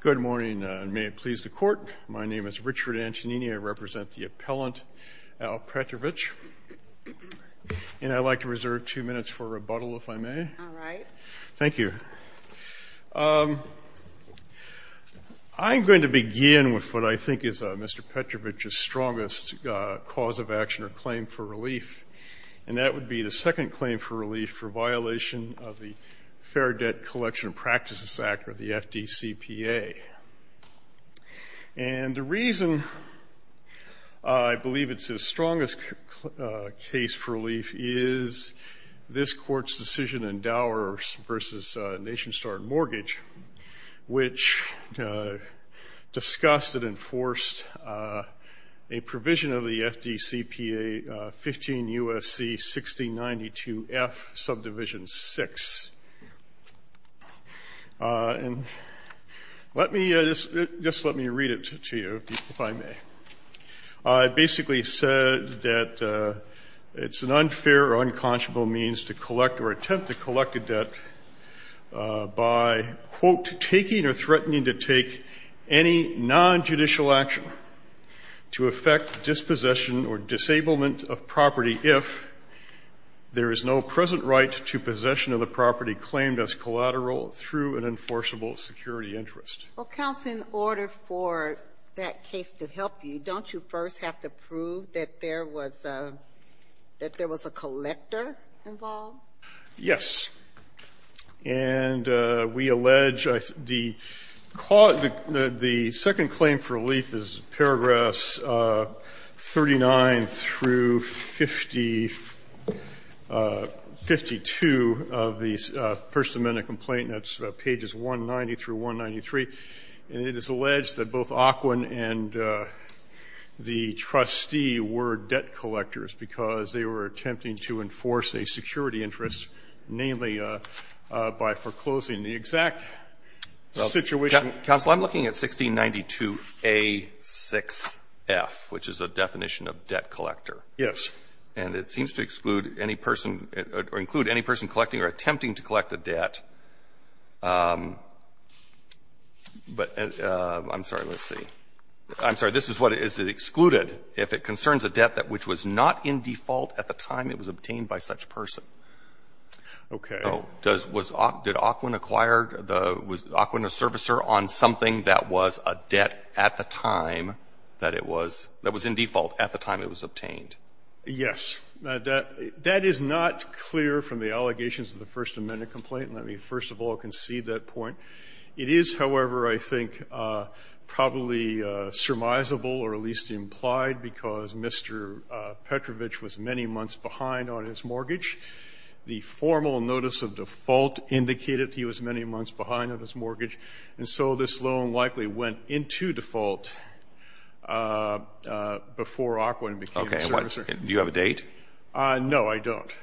Good morning, and may it please the Court, my name is Richard Antonini, I represent the appellant Al Petrovich, and I'd like to reserve two minutes for rebuttal, if I may. All right. Thank you. I'm going to begin with what I think is Mr. Petrovich's strongest cause of action or claim for relief, and that would be the second claim for relief for violation of the Fair Debt Collection and Practices Act or the FDCPA. And the reason I believe it's his strongest case for relief is this Court's decision in Dower v. Nation Star Mortgage, which discussed and enforced a provision of the FDCPA 15 U.S.C. 6092F, subdivision 6. And let me just let me read it to you, if I may. It basically said that it's an unfair or unconscionable means to collect or attempt to collect a debt by, quote, taking or threatening to take any nonjudicial action to affect dispossession or disablement of property if there is no present right to possession of the property claimed as collateral through an enforceable security interest. Well, counsel, in order for that case to help you, don't you first have to prove that there was a collector involved? Yes. And we allege the cause of the second claim for relief is paragraphs 39 through 52 of the First Amendment complaint. That's pages 190 through 193. And it is alleged that both Aquin and the trustee were debt collectors because they were attempting to enforce a security interest, namely, by foreclosing the exact situation. Counsel, I'm looking at 1692A6F, which is a definition of debt collector. Yes. And it seems to exclude any person or include any person collecting or attempting to collect a debt. But I'm sorry, let's see. I'm sorry. This is what is excluded if it concerns a debt that which was not in default at the time it was obtained by such a person. Okay. Did Aquin acquire the was Aquin a servicer on something that was a debt at the time that it was that was in default at the time it was obtained? Yes. That is not clear from the allegations of the First Amendment complaint. Let me, first of all, concede that point. It is, however, I think, probably surmisable or at least implied because Mr. Petrovich was many months behind on his mortgage. The formal notice of default indicated he was many months behind on his mortgage. And so this loan likely went into default before Aquin became a servicer. Do you have a date? No, I don't.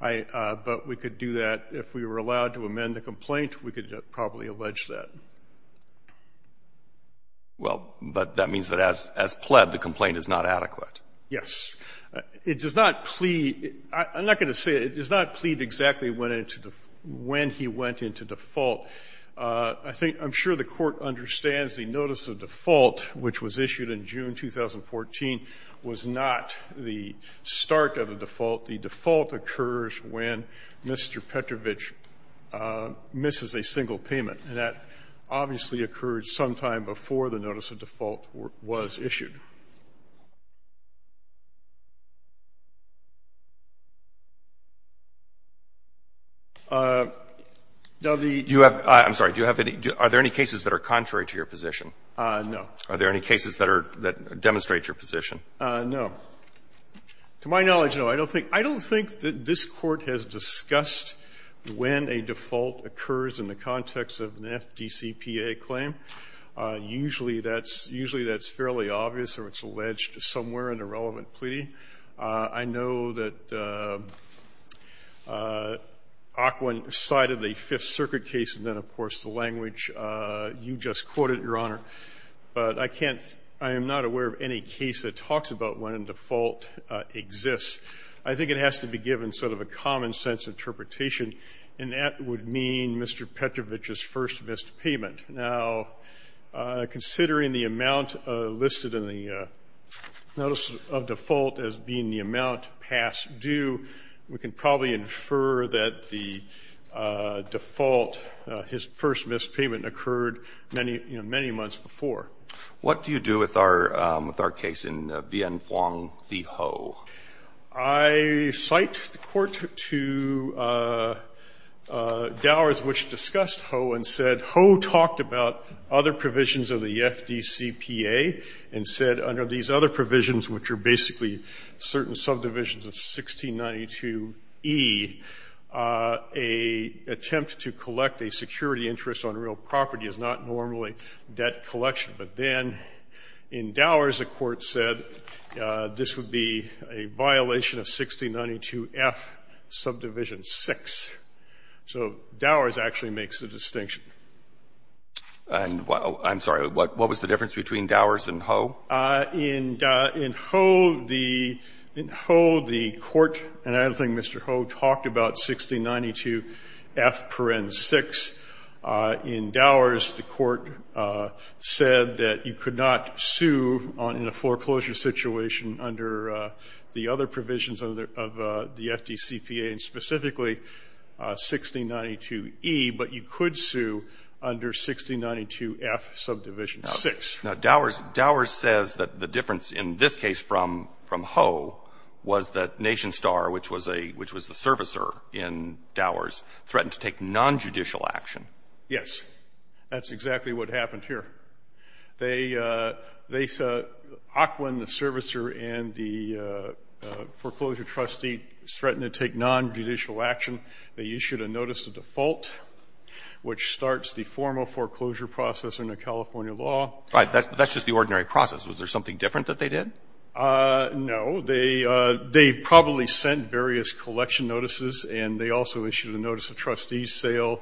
But we could do that if we were allowed to amend the complaint. We could probably allege that. Well, but that means that as pled, the complaint is not adequate. Yes. It does not plead. I'm not going to say it. It does not plead exactly when he went into default. I'm sure the Court understands the notice of default, which was issued in June 2014, was not the start of a default. The default occurs when Mr. Petrovich misses a single payment. And that obviously occurred sometime before the notice of default was issued. Do you have any cases that are contrary to your position? No. Are there any cases that are, that demonstrate your position? No. To my knowledge, no. I don't think that this Court has discussed when a default occurs in the context of an FDCPA claim. Usually that's fairly obvious or it's alleged somewhere in a relevant pleading. I know that Aquin cited the Fifth Circuit case and then, of course, the language you just quoted, Your Honor. But I can't, I am not aware of any case that talks about when a default exists. I think it has to be given sort of a common sense interpretation, and that would mean Mr. Petrovich's first missed payment. Now, considering the amount listed in the notice of default as being the amount past due, we can probably infer that the default, his first missed payment occurred many months before. What do you do with our case in Bien Phuong v. Ho? I cite the Court to Dowers, which discussed Ho, and said Ho talked about other provisions of the FDCPA and said under these other provisions, which are basically certain subdivisions of 1692e, an attempt to collect a security interest on real property is not normally debt collection. But then in Dowers, the Court said this would be a violation of 1692f, subdivision 6. So Dowers actually makes the distinction. I'm sorry. What was the difference between Dowers and Ho? In Ho, the Court, and I don't think Mr. Ho talked about 1692f, parens 6. In Dowers, the Court said that you could not sue in a foreclosure situation under the other provisions of the FDCPA, and specifically 1692e, but you could sue under 1692f, subdivision 6. Now, Dowers says that the difference in this case from Ho was that Nation Star, which was a – which was the servicer in Dowers, threatened to take nonjudicial action. Yes. That's exactly what happened here. They – they – Ocwen, the servicer, and the foreclosure trustee threatened to take nonjudicial action. They issued a notice of default, which starts the formal foreclosure process under California law. Right. That's just the ordinary process. Was there something different that they did? No. They – they probably sent various collection notices, and they also issued a notice of trustee sale.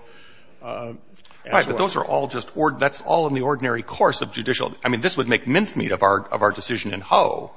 Right. But those are all just – that's all in the ordinary course of judicial – I mean, this would make mincemeat of our – of our decision in Ho,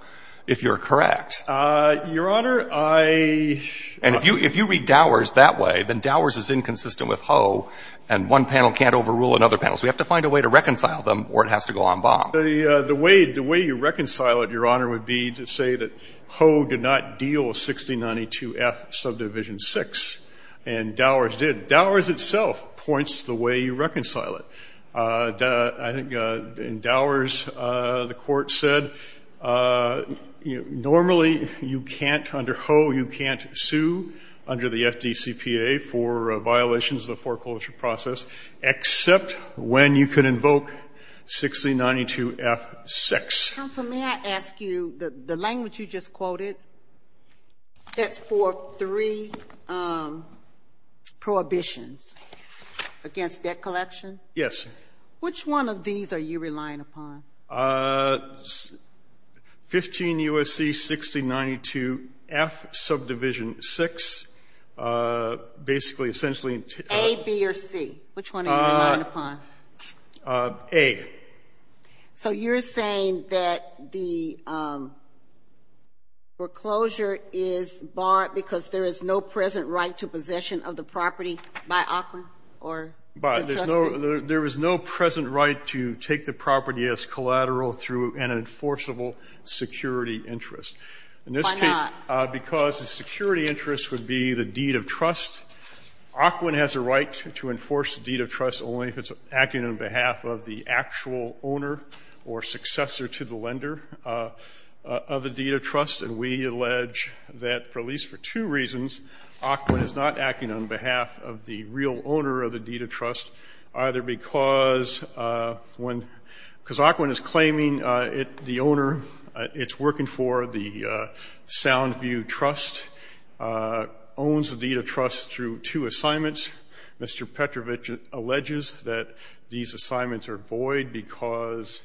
if you're correct. Your Honor, I – And if you – if you read Dowers that way, then Dowers is inconsistent with Ho, and one panel can't overrule another panel. So we have to find a way to reconcile them, or it has to go en banc. The way – the way you reconcile it, Your Honor, would be to say that Ho did not deal 6092F Subdivision 6, and Dowers did. Dowers itself points to the way you reconcile it. I think in Dowers, the Court said normally you can't – under Ho, you can't sue under the FDCPA for violations of the foreclosure process, except when you can invoke 6092F 6. Counsel, may I ask you – the language you just quoted, that's for three prohibitions against debt collection? Yes. Which one of these are you relying upon? 15 U.S.C. 6092F Subdivision 6, basically, essentially – A, B, or C. Which one are you relying upon? A. So you're saying that the foreclosure is barred because there is no present right to possession of the property by Aquan or the trustee? There is no present right to take the property as collateral through an enforceable security interest. Why not? In this case, because the security interest would be the deed of trust. Aquan has a right to enforce the deed of trust only if it's acting on behalf of the actual owner or successor to the lender of the deed of trust. And we allege that, at least for two reasons, Aquan is not acting on behalf of the real owner of the deed of trust, either because when – because Aquan is claiming the owner it's working for, the Soundview Trust, owns the deed of trust through two assignments. Mr. Petrovich alleges that these assignments are void because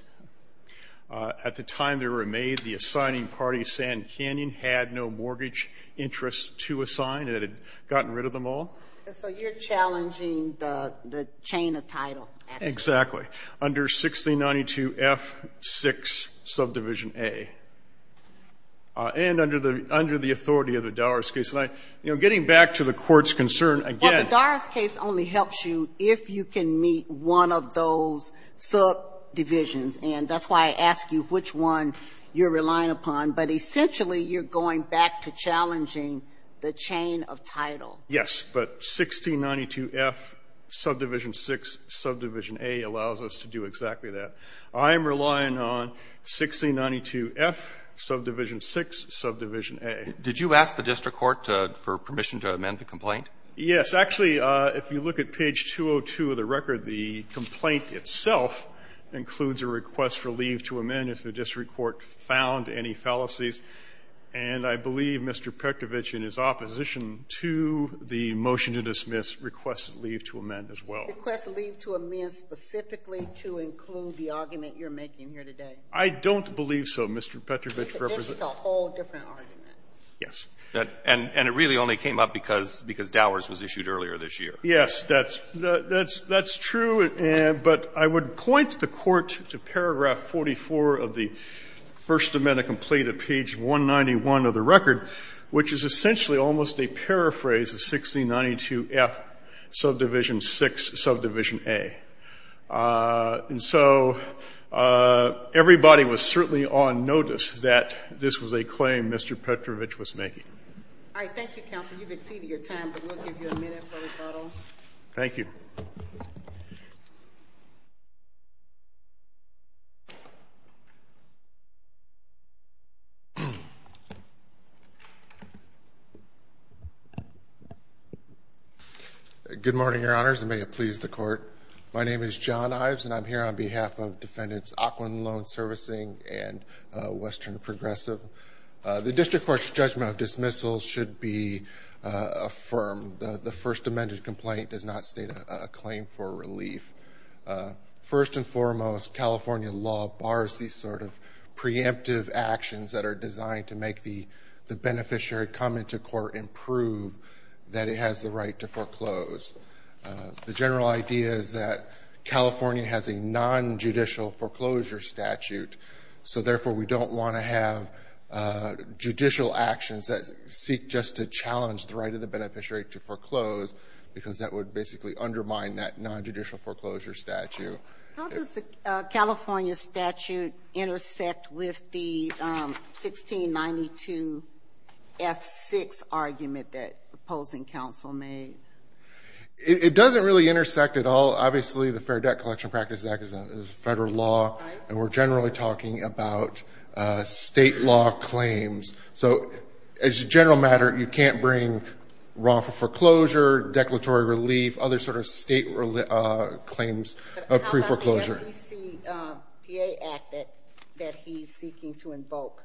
at the time they were made, the assigning party, Sand Canyon, had no mortgage interest to assign. It had gotten rid of them all. So you're challenging the chain of title. Exactly. Under 1692F6, subdivision A. And under the authority of the Doris case, getting back to the Court's concern again. Well, the Doris case only helps you if you can meet one of those subdivisions. And that's why I ask you which one you're relying upon. But essentially, you're going back to challenging the chain of title. Yes. But 1692F, subdivision 6, subdivision A allows us to do exactly that. I am relying on 1692F, subdivision 6, subdivision A. Did you ask the district court for permission to amend the complaint? Yes. Actually, if you look at page 202 of the record, the complaint itself includes a request for leave to amend if the district court found any fallacies. And I believe Mr. Petrovich, in his opposition to the motion to dismiss, requests leave to amend as well. Requests leave to amend specifically to include the argument you're making here today. I don't believe so, Mr. Petrovich. This is a whole different argument. Yes. And it really only came up because Dowers was issued earlier this year. Yes, that's true. But I would point the Court to paragraph 44 of the First Amendment complaint of page 191 of the record, which is essentially almost a paraphrase of 1692F, subdivision 6, subdivision A. And so everybody was certainly on notice that this was a claim Mr. Petrovich was making. All right. Thank you, counsel. You've exceeded your time, but we'll give you a minute for rebuttal. Thank you. Good morning, Your Honors, and may it please the Court. My name is John Ives, and I'm here on behalf of Defendants Aquinlone Servicing and Western Progressive. The district court's judgment of dismissal should be affirmed. The First Amendment complaint does not state a claim for relief. First and foremost, California law bars these sort of preemptive actions that are designed to make the beneficiary come into court and prove that it has the right to foreclose. The general idea is that California has a non-judicial foreclosure statute, so therefore we don't want to have judicial actions that seek just to foreclose because that would basically undermine that non-judicial foreclosure statute. How does the California statute intersect with the 1692 F6 argument that opposing counsel made? It doesn't really intersect at all. Obviously, the Fair Debt Collection Practice Act is a federal law, and we're generally talking about state law claims. So as a general matter, you can't bring wrongful foreclosure, declaratory relief, other sort of state claims of pre-foreclosure. How about the FDCPA Act that he's seeking to invoke?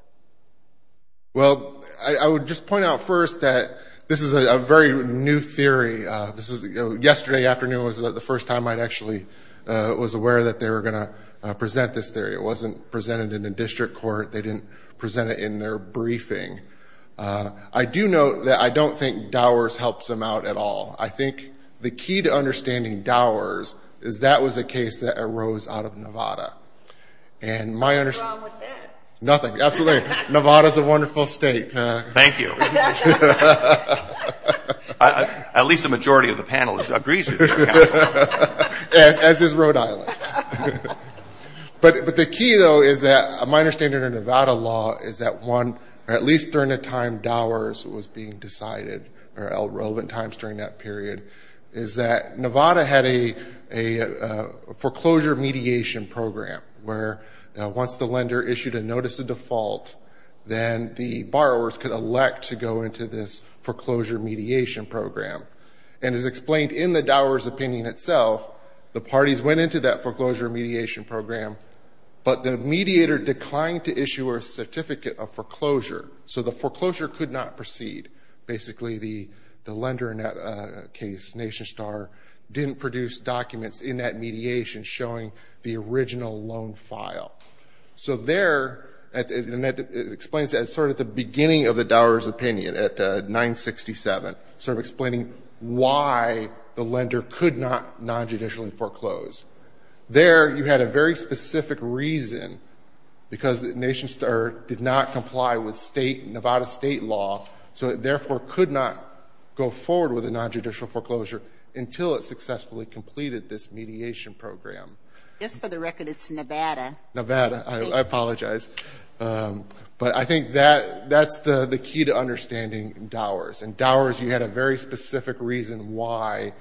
Well, I would just point out first that this is a very new theory. Yesterday afternoon was the first time I actually was aware that they were going to present this theory. It wasn't presented in the district court. They didn't present it in their briefing. I do note that I don't think Dowers helps them out at all. I think the key to understanding Dowers is that was a case that arose out of Nevada. What's wrong with that? Nothing. Absolutely. Nevada's a wonderful state. Thank you. At least a majority of the panel agrees with you, counsel. As is Rhode Island. But the key, though, is that my understanding of Nevada law is that one, at least during the time Dowers was being decided, or at relevant times during that period, is that Nevada had a foreclosure mediation program where once the lender issued a notice of default, then the borrowers could elect to go into this foreclosure mediation program. And as explained in the Dowers opinion itself, the parties went into that foreclosure mediation program, but the mediator declined to issue a certificate of foreclosure. So the foreclosure could not proceed. Basically, the lender in that case, Nation Star, didn't produce documents in that mediation showing the original loan file. So there, and it explains that sort of at the beginning of the Dowers opinion at 967, sort of explaining why the lender could not non-judicially foreclose. There, you had a very specific reason, because Nation Star did not comply with Nevada state law, so it therefore could not go forward with a non-judicial foreclosure until it successfully completed this mediation program. Just for the record, it's Nevada. Nevada. I apologize. But I think that's the key to understanding Dowers. In Dowers, you had a very specific reason why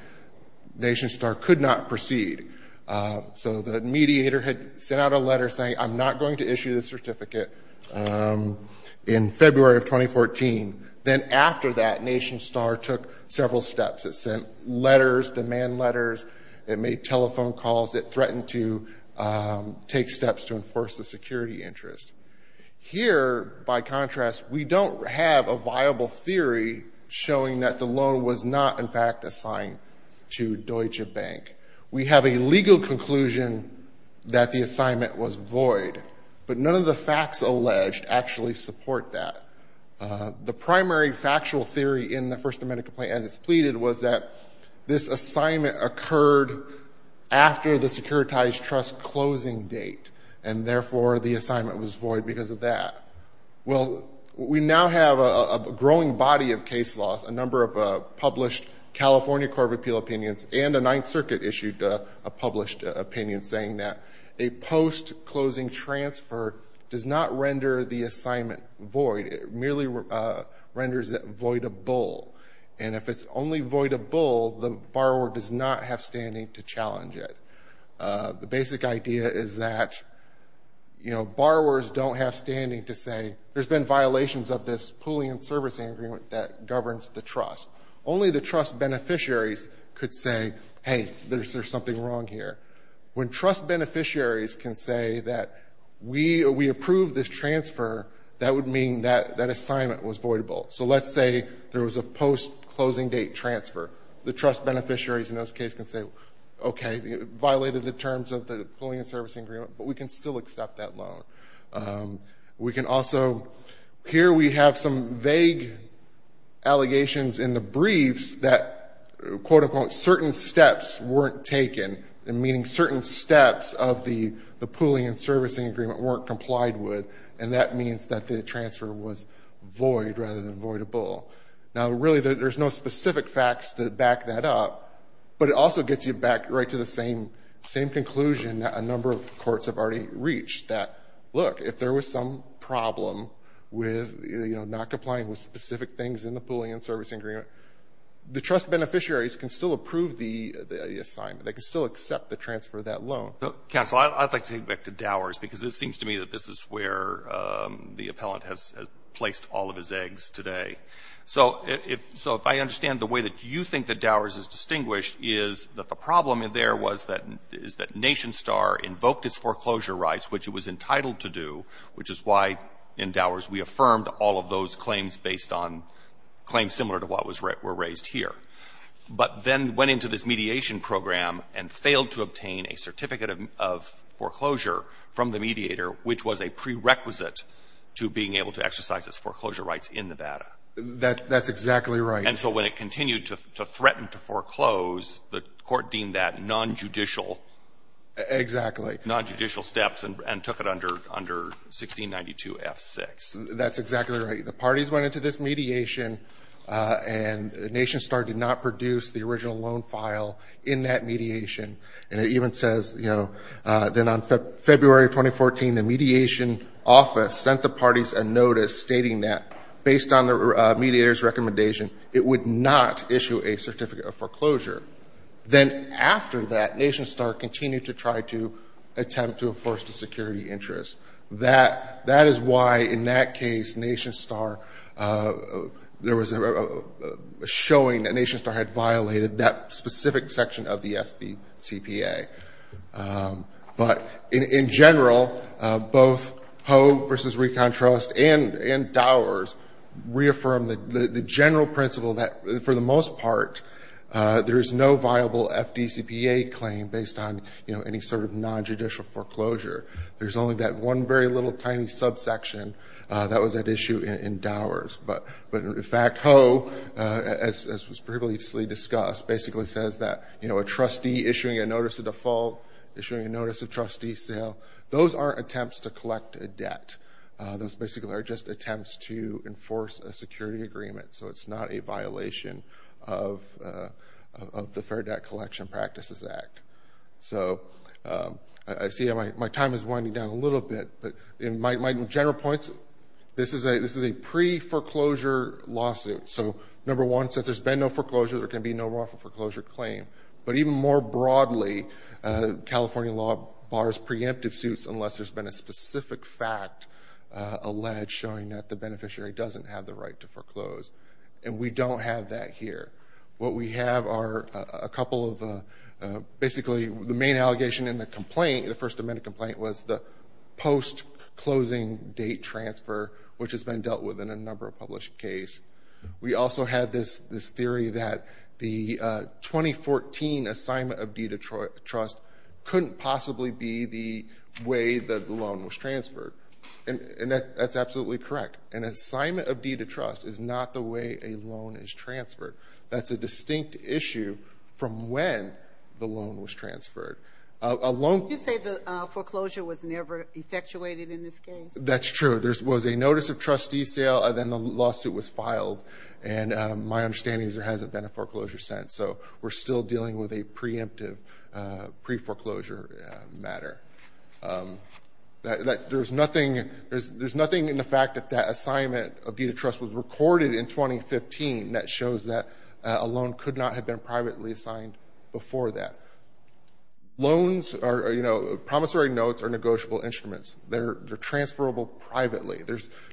Nation Star could not proceed. So the mediator had sent out a letter saying, I'm not going to issue this certificate in February of 2014. Then after that, Nation Star took several steps. It sent letters, demand letters. It made telephone calls. It threatened to take steps to enforce the security interest. Here, by contrast, we don't have a viable theory showing that the loan was not, in fact, assigned to Deutsche Bank. We have a legal conclusion that the assignment was void, but none of the facts alleged actually support that. The primary factual theory in the First Amendment complaint, as it's pleaded, was that this assignment occurred after the Securitized Trust closing date, and therefore, the assignment was void because of that. Well, we now have a growing body of case laws, a number of published California Court of Appeal opinions, and a Ninth Circuit-issued published opinion saying that a post-closing transfer does not render the assignment void. It merely renders it voidable. And if it's only voidable, the borrower does not have standing to challenge it. The basic idea is that, you know, borrowers don't have standing to say, there's been violations of this pooling and servicing agreement that governs the trust. Only the trust beneficiaries could say, hey, there's something wrong here. When trust beneficiaries can say that we approved this transfer, that would mean that that assignment was voidable. So let's say there was a post-closing date transfer. The trust beneficiaries in those cases can say, okay, it violated the terms of the pooling and servicing agreement, but we can still accept that loan. We can also, here we have some vague allegations in the briefs that, quote-unquote, certain steps weren't taken, meaning certain steps of the pooling and servicing agreement weren't complied with, and that means that the transfer was void rather than voidable. Now, really, there's no specific facts to back that up, but it also gets you back right to the same conclusion a number of courts have already reached, that, look, if there was some problem with, you know, not complying with specific things in the pooling and servicing agreement, the trust beneficiaries can still approve the assignment. They can still accept the transfer of that loan. Counsel, I'd like to take it back to Dowers, because it seems to me that this is where the appellant has placed all of his eggs today. So if I understand the way that you think that Dowers is distinguished is that the problem there was that NationStar invoked its foreclosure rights, which it was entitled to do, which is why in Dowers we affirmed all of those claims based on claims similar to what was raised here, but then went into this mediation program and failed to obtain a certificate of foreclosure from the mediator, which was a prerequisite to being able to exercise its foreclosure rights in Nevada. That's exactly right. And so when it continued to threaten to foreclose, the Court deemed that nonjudicial Exactly. Nonjudicial steps and took it under 1692 F6. That's exactly right. The parties went into this mediation, and NationStar did not produce the original loan file in that mediation. And it even says, you know, then on February 2014, the mediation office sent the parties a notice stating that based on the mediator's recommendation, it would not issue a certificate of foreclosure. Then after that, NationStar continued to try to attempt to enforce the security interest. That is why in that case, NationStar, there was a showing that NationStar had violated that specific section of the FDCPA. But in general, both Ho versus ReconTrust and Dowers reaffirmed the general principle that for the most part, there is no viable FDCPA claim based on, you know, any sort of nonjudicial foreclosure. There's only that one very little tiny subsection that was at issue in Dowers. But in fact, Ho, as was previously discussed, basically says that, you know, a trustee issuing a notice of default, issuing a notice of trustee sale, those aren't attempts to collect a debt. Those basically are just attempts to enforce a security agreement. So it's not a violation of the Fair Debt Collection Practices Act. So I see my time is winding down a little bit. But in my general points, this is a pre-foreclosure lawsuit. So number one, since there's been no foreclosure, there can be no wrongful foreclosure claim. But even more broadly, California law bars preemptive suits unless there's been a specific fact alleged showing that the beneficiary doesn't have the right to foreclose. And we don't have that here. What we have are a couple of basically the main allegation in the complaint, the first closing date transfer, which has been dealt with in a number of published case. We also have this theory that the 2014 assignment of deed of trust couldn't possibly be the way that the loan was transferred. And that's absolutely correct. An assignment of deed of trust is not the way a loan is transferred. You say the foreclosure was never effectuated in this case. That's true. There was a notice of trustee sale, and then the lawsuit was filed. And my understanding is there hasn't been a foreclosure since. So we're still dealing with a preemptive pre-foreclosure matter. There's nothing in the fact that that assignment of deed of trust was recorded in 2015 that shows that a loan could not have been privately assigned before that. Loans are, you know, promissory notes are negotiable instruments. They're transferable privately.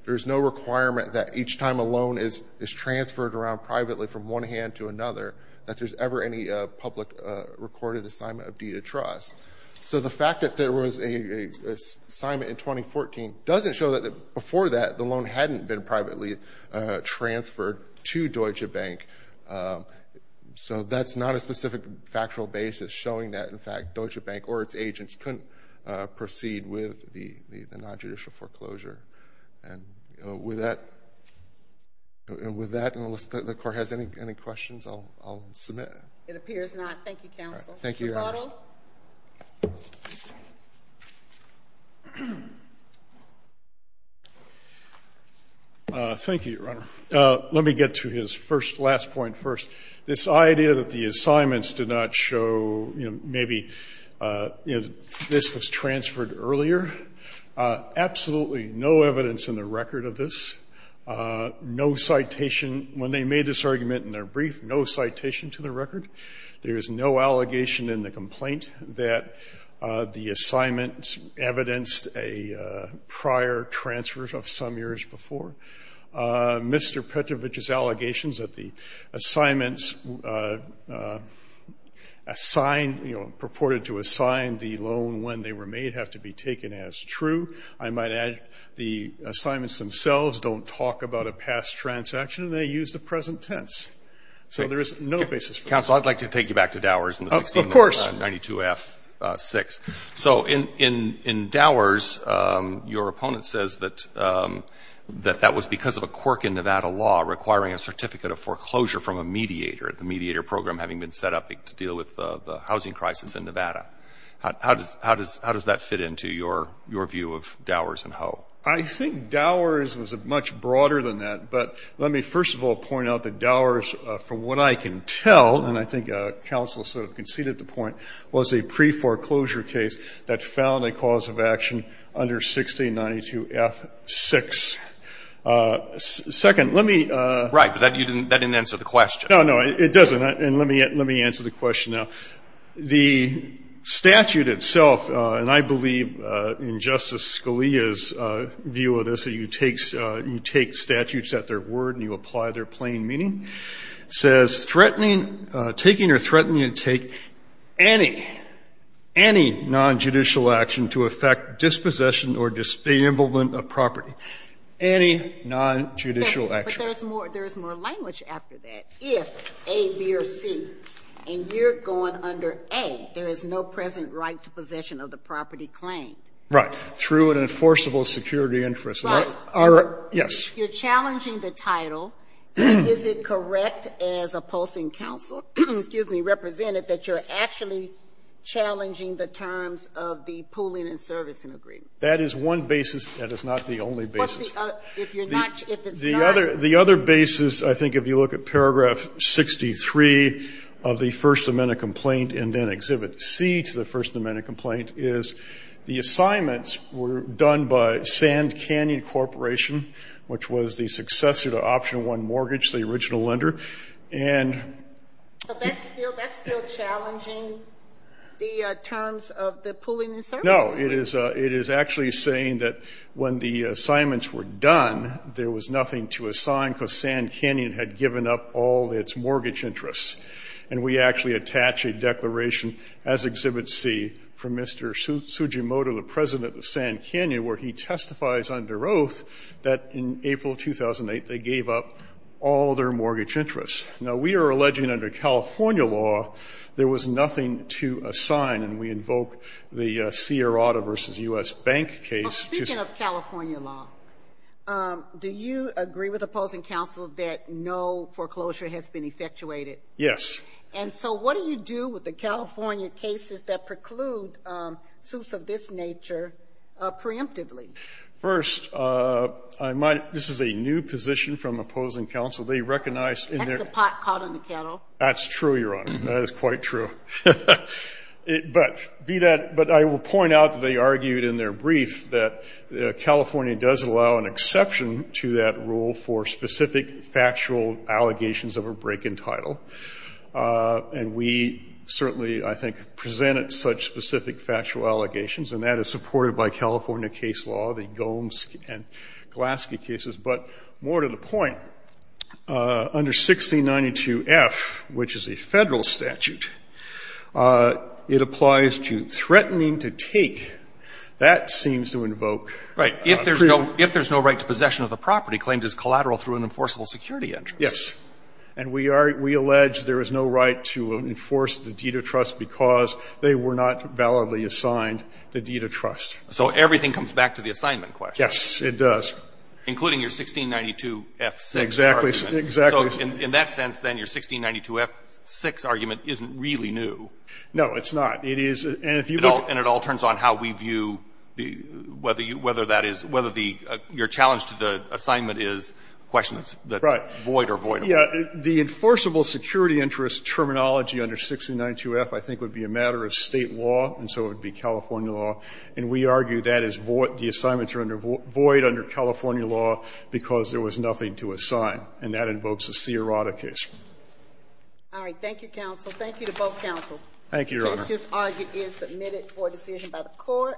There's no requirement that each time a loan is transferred around privately from one hand to another that there's ever any public recorded assignment of deed of trust. So the fact that there was an assignment in 2014 doesn't show that before that the loan hadn't been privately transferred to Deutsche Bank. So that's not a specific factual basis showing that, in fact, Deutsche Bank or its agents couldn't proceed with the nonjudicial foreclosure. And with that, unless the Court has any questions, I'll submit. It appears not. Thank you, counsel. Thank you, Your Honor. Thank you, Your Honor. Let me get to his first last point first. This idea that the assignments did not show, you know, maybe, you know, this was transferred earlier, absolutely no evidence in the record of this. No citation. When they made this argument in their brief, no citation to the record. There is no allegation in the complaint that the assignments evidenced a prior transfer of some years before. Mr. Petrovich's allegations that the assignments assigned, you know, purported to assign the loan when they were made have to be taken as true. I might add the assignments themselves don't talk about a past transaction. They use the present tense. So there is no basis for this. Counsel, I'd like to take you back to Dowers and the 1692F6. So in Dowers, your opponent says that that was because of a quirk in Nevada law requiring a certificate of foreclosure from a mediator, the mediator program having been set up to deal with the housing crisis in Nevada. How does that fit into your view of Dowers and Hoe? I think Dowers was much broader than that. But let me first of all point out that Dowers, from what I can tell, and I think counsel sort of conceded the point, was a pre-foreclosure case that found a cause of action under 1692F6. Second, let me ---- Right. But that didn't answer the question. No, no, it doesn't. And let me answer the question now. The statute itself, and I believe in Justice Scalia's view of this, you take statutes at their word and you apply their plain meaning. It says, threatening, taking or threatening to take any, any nonjudicial action to affect dispossession or disembowelment of property. Any nonjudicial action. But there is more language after that. If A, B, or C, and you're going under A, there is no present right to possession of the property claimed. Right. Through an enforceable security interest. Right. Yes. So you're challenging the title. Is it correct as a posting counsel, excuse me, represented that you're actually challenging the terms of the pooling and servicing agreement? That is one basis. That is not the only basis. What's the other? If you're not ---- The other basis, I think, if you look at paragraph 63 of the First Amendment complaint and then Exhibit C to the First Amendment complaint, is the assignments were done by Sand Canyon Corporation, which was the successor to Option 1 Mortgage, the original lender. And ---- But that's still challenging the terms of the pooling and servicing agreement. No. It is actually saying that when the assignments were done, there was nothing to assign because Sand Canyon had given up all its mortgage interests. And we actually attach a declaration as Exhibit C from Mr. Tsujimoto, the president of Sand Canyon, where he testifies under oath that in April 2008, they gave up all their mortgage interests. Now, we are alleging under California law there was nothing to assign, and we invoke the Sierrata v. U.S. Bank case to ---- Well, speaking of California law, do you agree with the posting counsel that no foreclosure has been effectuated? Yes. And so what do you do with the California cases that preclude suits of this nature preemptively? First, I might ---- this is a new position from opposing counsel. They recognize in their ---- That's a pot caught in the kettle. That's true, Your Honor. That is quite true. But be that ---- but I will point out that they argued in their brief that California does allow an exception to that rule for specific factual allegations of a break in title, and we certainly, I think, presented such specific factual allegations, and that is supported by California case law, the Gomes and Glaske cases. But more to the point, under 1692F, which is a Federal statute, it applies to threatening to take. That seems to invoke ---- Right. If there's no right to possession of the property claimed as collateral through an enforceable security interest. Yes. And we are ---- we allege there is no right to enforce the deed of trust because they were not validly assigned the deed of trust. So everything comes back to the assignment question. Yes, it does. Including your 1692F6 argument. Exactly. Exactly. So in that sense, then, your 1692F6 argument isn't really new. No, it's not. It is ---- and if you look ---- And it all turns on how we view the ---- whether you ---- whether that is ---- whether the ---- your challenge to the assignment is a question that's void or voidable. Right. Yeah. The enforceable security interest terminology under 1692F I think would be a matter of State law, and so it would be California law. And we argue that is void ---- the assignments are under void under California law because there was nothing to assign. And that invokes a c erotic issue. All right. Thank you, counsel. Thank you to both counsels. Thank you, Your Honor. The case just argued is submitted for decision by the Court.